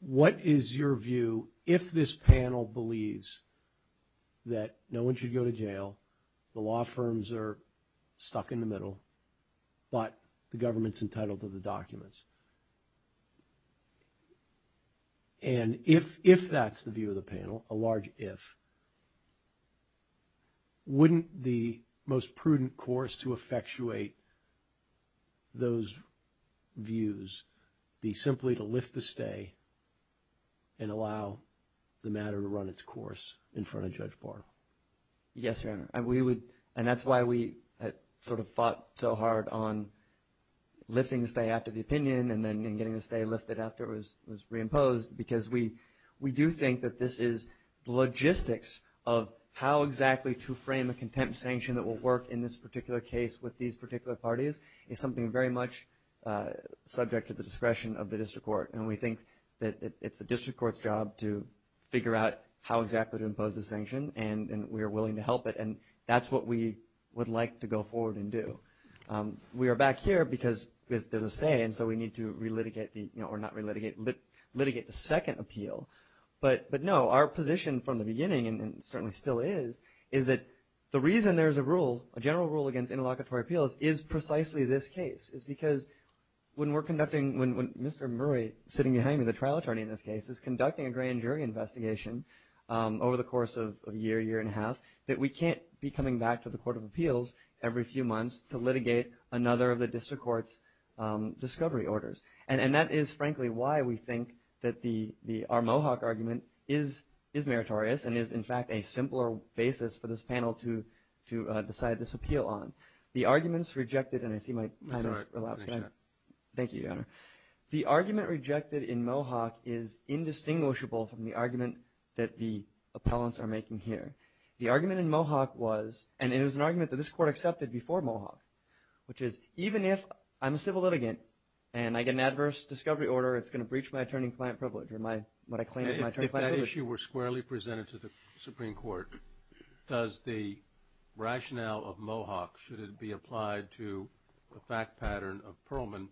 What is your view, if this panel believes that no one should go to jail, the law firms are stuck in the middle, but the government's entitled to the documents, and if that's the view of the panel, a large if, wouldn't the most prudent course to effectuate those views be simply to lift the stay and allow the matter to run its course in front of Judge Barnell? Yes, Your Honor, and we would, and that's why we sort of fought so hard on lifting the stay after the opinion and then getting the stay lifted after it was reimposed, because we do think that this is the logistics of how exactly to frame a contempt sanction that will work in this particular case with these particular parties is something very much subject to the discretion of the District Court, and we think that it's the District Court's job to figure out how exactly to impose the sanction, and we are willing to help it, and that's what we would like to go forward and do. We are back here because there's a stay, and so we need to re-litigate the, or not re-litigate, litigate the second appeal, but no, our position from the beginning, and it certainly still is, is that the reason there's a rule, a general rule against interlocutory appeals is precisely this case, is because when we're conducting, when Mr. Murray, sitting behind me, the trial attorney in this case, is conducting a grand jury investigation over the course of a year, year and a half, that we can't be coming back to the Court of Appeals every few months to litigate another of the District Court's discovery orders, and that is, frankly, why we think that our Mohawk argument is meritorious and is, in fact, a simpler basis for this panel to decide this appeal on. The arguments rejected, and I see my time has elapsed. Thank you, Your Honor. The argument rejected in Mohawk is indistinguishable from the argument that the appellants are making here. The argument in Mohawk was, and it was an argument that this Court accepted before Mohawk, which is, even if I'm a civil litigant and I get an adverse discovery order, it's going to breach my attorney-client privilege or what I claim is my attorney-client privilege. If that issue were squarely presented to the Supreme Court, does the rationale of Mohawk, should it be applied to the fact pattern of Perlman,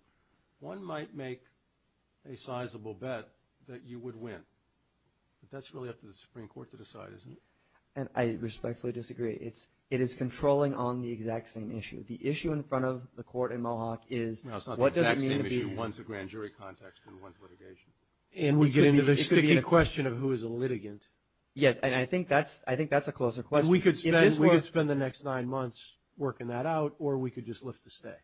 one might make a sizable bet that you would win, but that's really up to the Supreme Court to decide, isn't it? And I respectfully disagree. It is controlling on the exact same issue. The issue in front of the Court in Mohawk is, what does it mean to be here? No, it's not the exact same issue. One's a grand jury context and one's litigation. It could be a question of who is a litigant. Yes, and I think that's a closer question. We could spend the next nine months working that out or we could just lift the stay.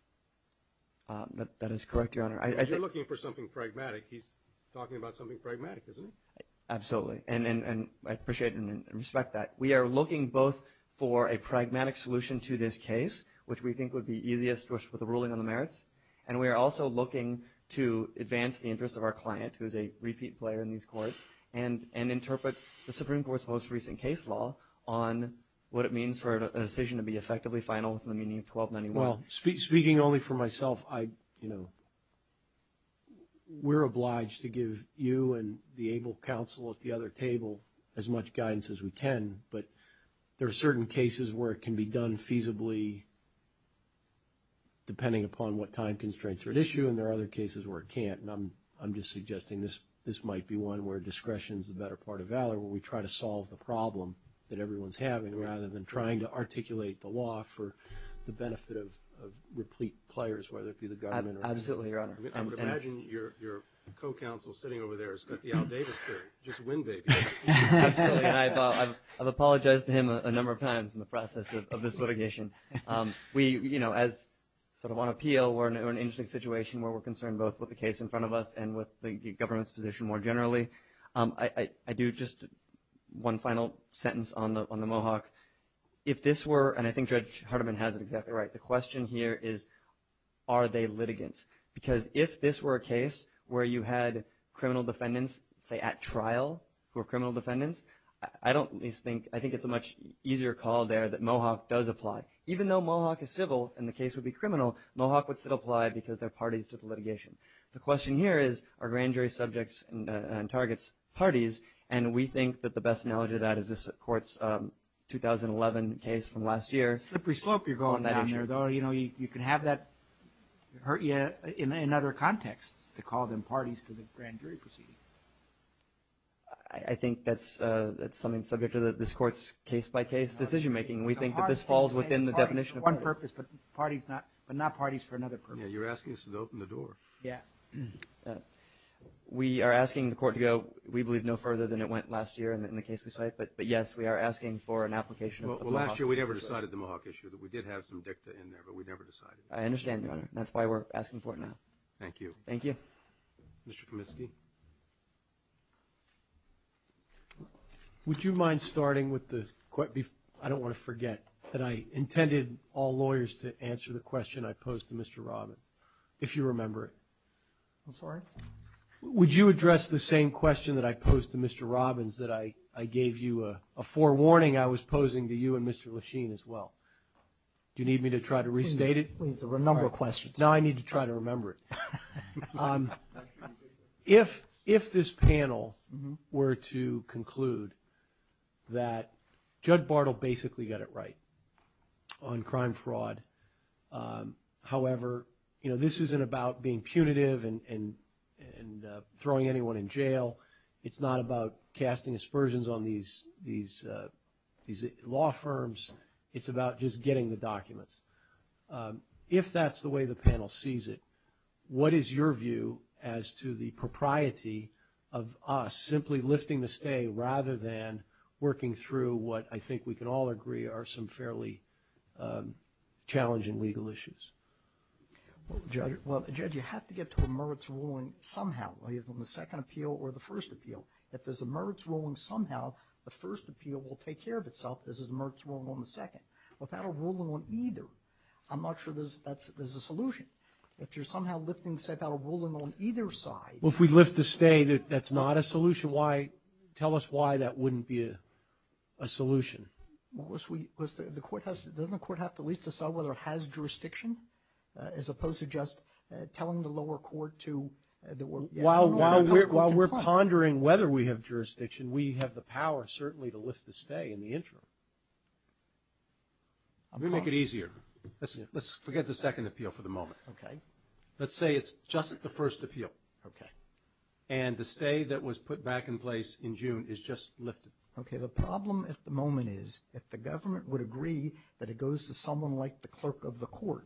That is correct, Your Honor. You're looking for something pragmatic. He's talking about something pragmatic, isn't he? Absolutely. And I appreciate and respect that. We are looking both for a pragmatic solution to this case, which we think would be easiest with a ruling on the merits, and we are also looking to advance the interests of our client, who is a repeat player in these courts, and interpret the Supreme Court's most recent case law on what it means for a decision to be effectively final within the meaning of 1291. Well, speaking only for myself, I, you know, we're obliged to give you and the able counsel at the other table as much guidance as we can, but there are certain cases where it can be done feasibly depending upon what time constraints are at issue, and there are other cases where it can't, and I'm just suggesting this might be one where discretion is the better part of valor, where we try to solve the problem that everyone's having rather than trying to articulate the law for the benefit of replete players, whether it be the government or not. Absolutely, Your Honor. I would imagine your co-counsel sitting over there has got the Al Davis theory. Just win, baby. Absolutely. I've apologized to him a number of times in the process of this litigation. We, you know, as sort of on appeal, we're in an interesting situation where we're concerned both with the case in front of us and with the government's position more generally. I do just one final sentence on the Mohawk. If this were, and I think Judge Hardiman has it exactly right, the question here is are they litigants? Because if this were a case where you had criminal defendants, say at trial, who are criminal defendants, I don't at least think, I think it's a much easier call there that Mohawk does apply. Even though Mohawk is civil and the case would be criminal, Mohawk would still apply because they're parties to the litigation. The question here is are grand jury subjects and targets parties, and we think that the best analogy to that is this court's 2011 case from last year. Slippery slope you're going down there, though. You know, you can have that hurt you in other contexts to call them parties to the grand jury proceeding. I think that's something subject to this court's case-by-case decision making. We think that this falls within the definition of parties. One purpose, but not parties for another purpose. Yeah, you're asking us to open the door. Yeah. We are asking the court to go, we believe, no further than it went last year in the case we cite, but, yes, we are asking for an application of the Mohawk case. Well, last year we never decided the Mohawk issue. We did have some dicta in there, but we never decided it. I understand, Your Honor. That's why we're asking for it now. Thank you. Thank you. Mr. Kaminsky. Would you mind starting with the, I don't want to forget, that I intended all lawyers to answer the question I posed to Mr. Robbins, if you remember it. I'm sorry? Would you address the same question that I posed to Mr. Robbins that I gave you a forewarning I was posing to you and Mr. Lechine as well? Do you need me to try to restate it? Please, there were a number of questions. Now I need to try to remember it. If this panel were to conclude that Judge Bartle basically got it right on crime fraud, however, you know, this isn't about being punitive and throwing anyone in jail. It's not about casting aspersions on these law firms. It's about just getting the documents. If that's the way the panel sees it, what is your view as to the propriety of us simply lifting the stay rather than working through what I think we can all agree are some fairly challenging legal issues? Well, Judge, you have to get to a Mertz ruling somehow, either on the second appeal or the first appeal. If there's a Mertz ruling somehow, the first appeal will take care of itself. There's a Mertz ruling on the second. Without a ruling on either, I'm not sure there's a solution. If you're somehow lifting, say, without a ruling on either side. Well, if we lift the stay, that's not a solution. Why? Tell us why that wouldn't be a solution. Doesn't the court have to at least decide whether it has jurisdiction as opposed to just telling the lower court to? While we're pondering whether we have jurisdiction, we have the power certainly to lift the stay in the interim. Let me make it easier. Let's forget the second appeal for the moment. Okay. Let's say it's just the first appeal. Okay. And the stay that was put back in place in June is just lifted. Okay. The problem at the moment is if the government would agree that it goes to someone like the clerk of the court,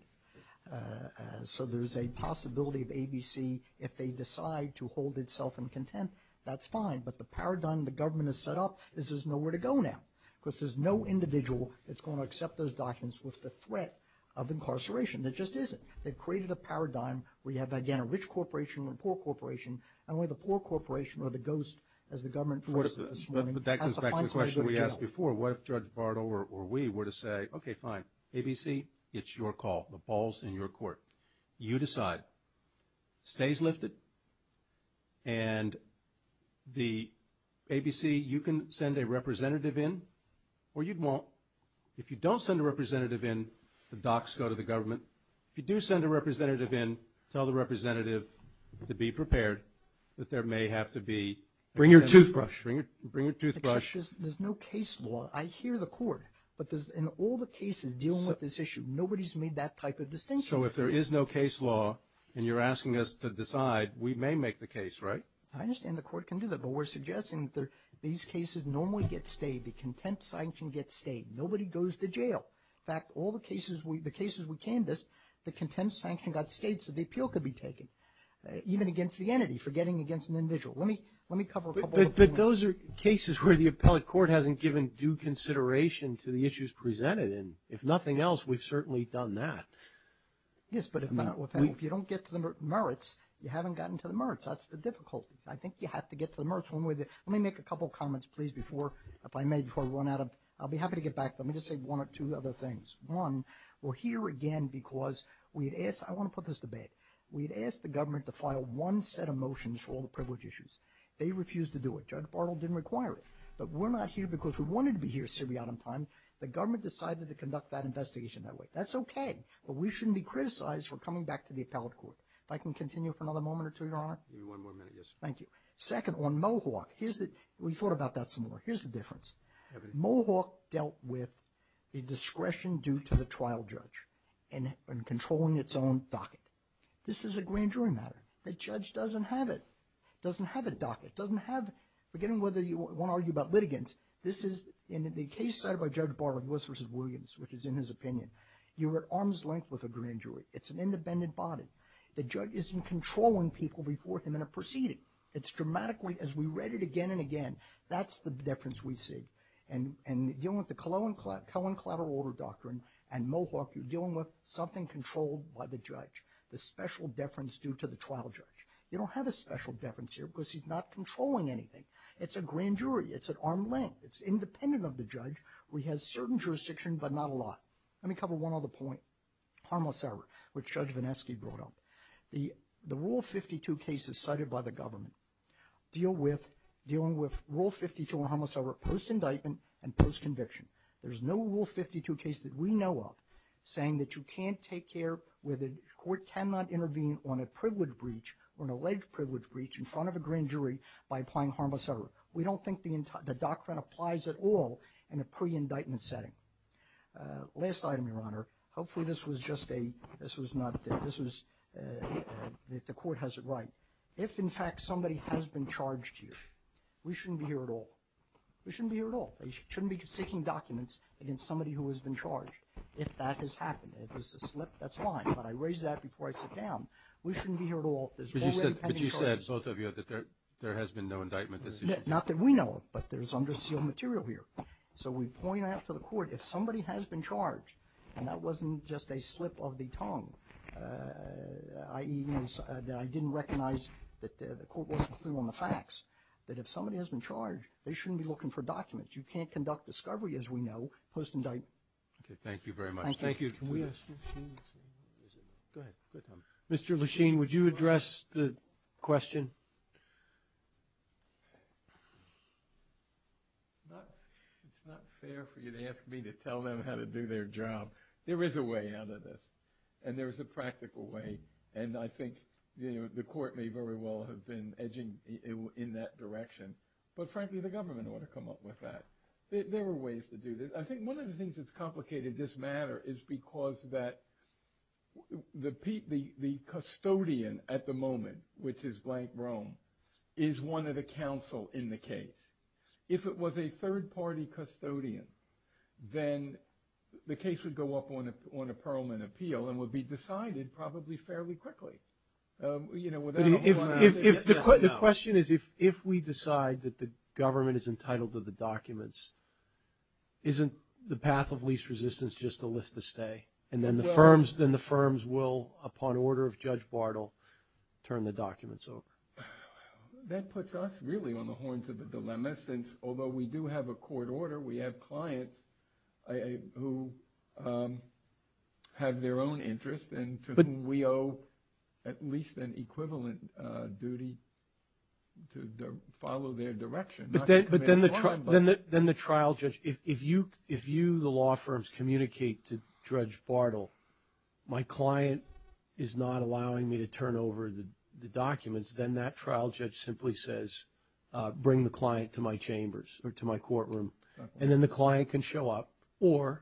so there's a possibility of ABC, if they decide to hold itself in content, that's fine. But the paradigm the government has set up is there's nowhere to go now because there's no individual that's going to accept those documents with the threat of incarceration. There just isn't. They've created a paradigm where you have, again, a rich corporation and a poor corporation. And where the poor corporation or the ghost, as the government put it this morning, has the final say. But that goes back to the question we asked before. What if Judge Bardo or we were to say, okay, fine, ABC, it's your call. The ball's in your court. You decide. Stay's lifted. And the ABC, you can send a representative in or you won't. If you do send a representative in, tell the representative to be prepared that there may have to be. Bring your toothbrush. Bring your toothbrush. There's no case law. I hear the court. But in all the cases dealing with this issue, nobody's made that type of distinction. So if there is no case law and you're asking us to decide, we may make the case, right? I understand the court can do that. But we're suggesting that these cases normally get stayed. The contempt sign can get stayed. Nobody goes to jail. In fact, all the cases we canvassed, the contempt sanction got stayed so the appeal could be taken, even against the entity, forgetting against an individual. Let me cover a couple of them. But those are cases where the appellate court hasn't given due consideration to the issues presented. And if nothing else, we've certainly done that. Yes, but if you don't get to the merits, you haven't gotten to the merits. That's the difficulty. I think you have to get to the merits. Let me make a couple of comments, please, before I run out of them. I'll be happy to get back to them. I'll just say one or two other things. One, we're here again because we had asked—I want to put this to bed. We had asked the government to file one set of motions for all the privilege issues. They refused to do it. Judge Bartle didn't require it. But we're not here because we wanted to be here at Syriacum Times. The government decided to conduct that investigation that way. That's okay. But we shouldn't be criticized for coming back to the appellate court. If I can continue for another moment or two, Your Honor? Give me one more minute, yes. Thank you. Second, on Mohawk, we thought about that some more. Here's the difference. Mohawk dealt with a discretion due to the trial judge in controlling its own docket. This is a grand jury matter. The judge doesn't have it, doesn't have a docket, doesn't have— again, whether you want to argue about litigants, this is— in the case set by Judge Bartle, Lewis v. Williams, which is in his opinion, you're at arm's length with a grand jury. It's an independent body. The judge isn't controlling people before him in a proceeding. It's dramatically—as we read it again and again, that's the difference we see. And dealing with the Cohen Collateral Order Doctrine and Mohawk, you're dealing with something controlled by the judge, the special deference due to the trial judge. You don't have a special deference here because he's not controlling anything. It's a grand jury. It's at arm's length. It's independent of the judge. He has certain jurisdiction, but not a lot. Let me cover one other point, harmless error, which Judge Vanesky brought up. The Rule 52 cases cited by the government deal with— pre-indictment and post-conviction. There's no Rule 52 case that we know of saying that you can't take care— where the court cannot intervene on a privilege breach or an alleged privilege breach in front of a grand jury by applying harmless error. We don't think the Doctrine applies at all in a pre-indictment setting. Last item, Your Honor. Hopefully this was just a—this was not—this was—the court has it right. If, in fact, somebody has been charged here, we shouldn't be here at all. We shouldn't be here at all. They shouldn't be seeking documents against somebody who has been charged. If that has happened, if it's a slip, that's fine, but I raise that before I sit down. We shouldn't be here at all. There's no way to pen a charge. But you said, both of you, that there has been no indictment decision. Not that we know of, but there's under-sealed material here. So we point out to the court, if somebody has been charged, and that wasn't just a slip of the tongue, i.e. that I didn't recognize that the court wasn't clear on facts, that if somebody has been charged, they shouldn't be looking for documents. You can't conduct discovery, as we know, post-indictment. Okay. Thank you very much. Thank you. Can we ask you? Go ahead. Mr. Lechine, would you address the question? It's not fair for you to ask me to tell them how to do their job. There is a way out of this, and there is a practical way. And I think the court may very well have been edging in that direction. But frankly, the government ought to come up with that. There are ways to do this. I think one of the things that's complicated this matter is because the custodian at the moment, which is blank Rome, is one of the counsel in the case. If it was a third-party custodian, then the case would go up on a Perelman appeal and would be decided probably fairly quickly. But the question is, if we decide that the government is entitled to the documents, isn't the path of least resistance just to lift the stay? And then the firms will, upon order of Judge Bartle, turn the documents over? That puts us really on the horns of the dilemma, since although we do have a court order, we have clients who have their own interests and to whom we owe at least an equivalent duty to follow their direction. But then the trial judge, if you, the law firms, communicate to Judge Bartle, my client is not allowing me to turn over the documents, then that trial judge simply says, bring the client to my chambers or to my courtroom. And then the client can show up or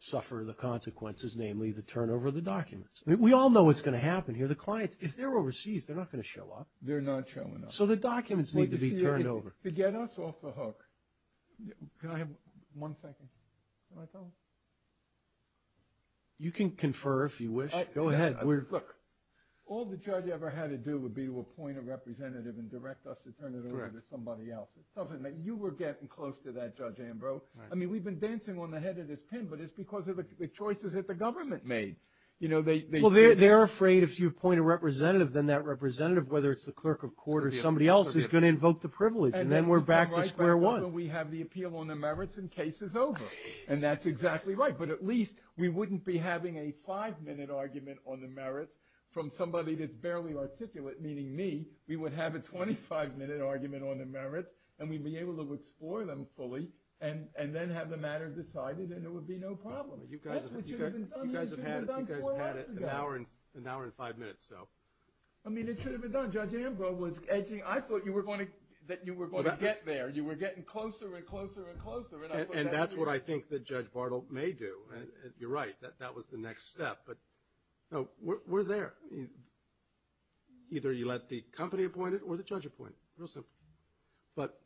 suffer the consequences, namely the turnover of the documents. We all know what's going to happen here. The clients, if they're overseas, they're not going to show up. They're not showing up. So the documents need to be turned over. To get us off the hook. Can I have one second? Can I tell him? You can confer if you wish. Go ahead. Look, all the judge ever had to do would be to appoint a representative and direct us to turn it over to somebody else. You were getting close to that, Judge Ambrose. I mean, we've been dancing on the head of this pin, but it's because of the choices that the government made. Well, they're afraid if you appoint a representative, then that representative, whether it's the clerk of court or somebody else, is going to invoke the privilege. And then we're back to square one. We have the appeal on the merits and case is over. And that's exactly right. But at least we wouldn't be having a five-minute argument on the merits from somebody that's barely articulate, meaning me. We would have a 25-minute argument on the merits and we'd be able to explore them fully and then have the matter decided and it would be no problem. That's what should have been done. You guys have had an hour and five minutes, though. I mean, it should have been done. Judge Ambrose was edging. I thought you were going to get there. You were getting closer and closer and closer. And that's what I think that Judge Bartle may do. You're right. That was the next step. But we're there. Either you let the company appoint it or the judge appoint it. Real simple. But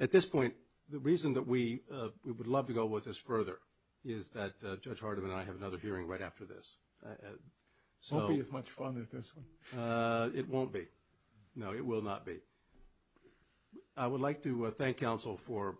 at this point, the reason that we would love to go with this further is that Judge Hardeman and I have another hearing right after this. It won't be as much fun as this one. It won't be. No, it will not be. I would like to thank counsel for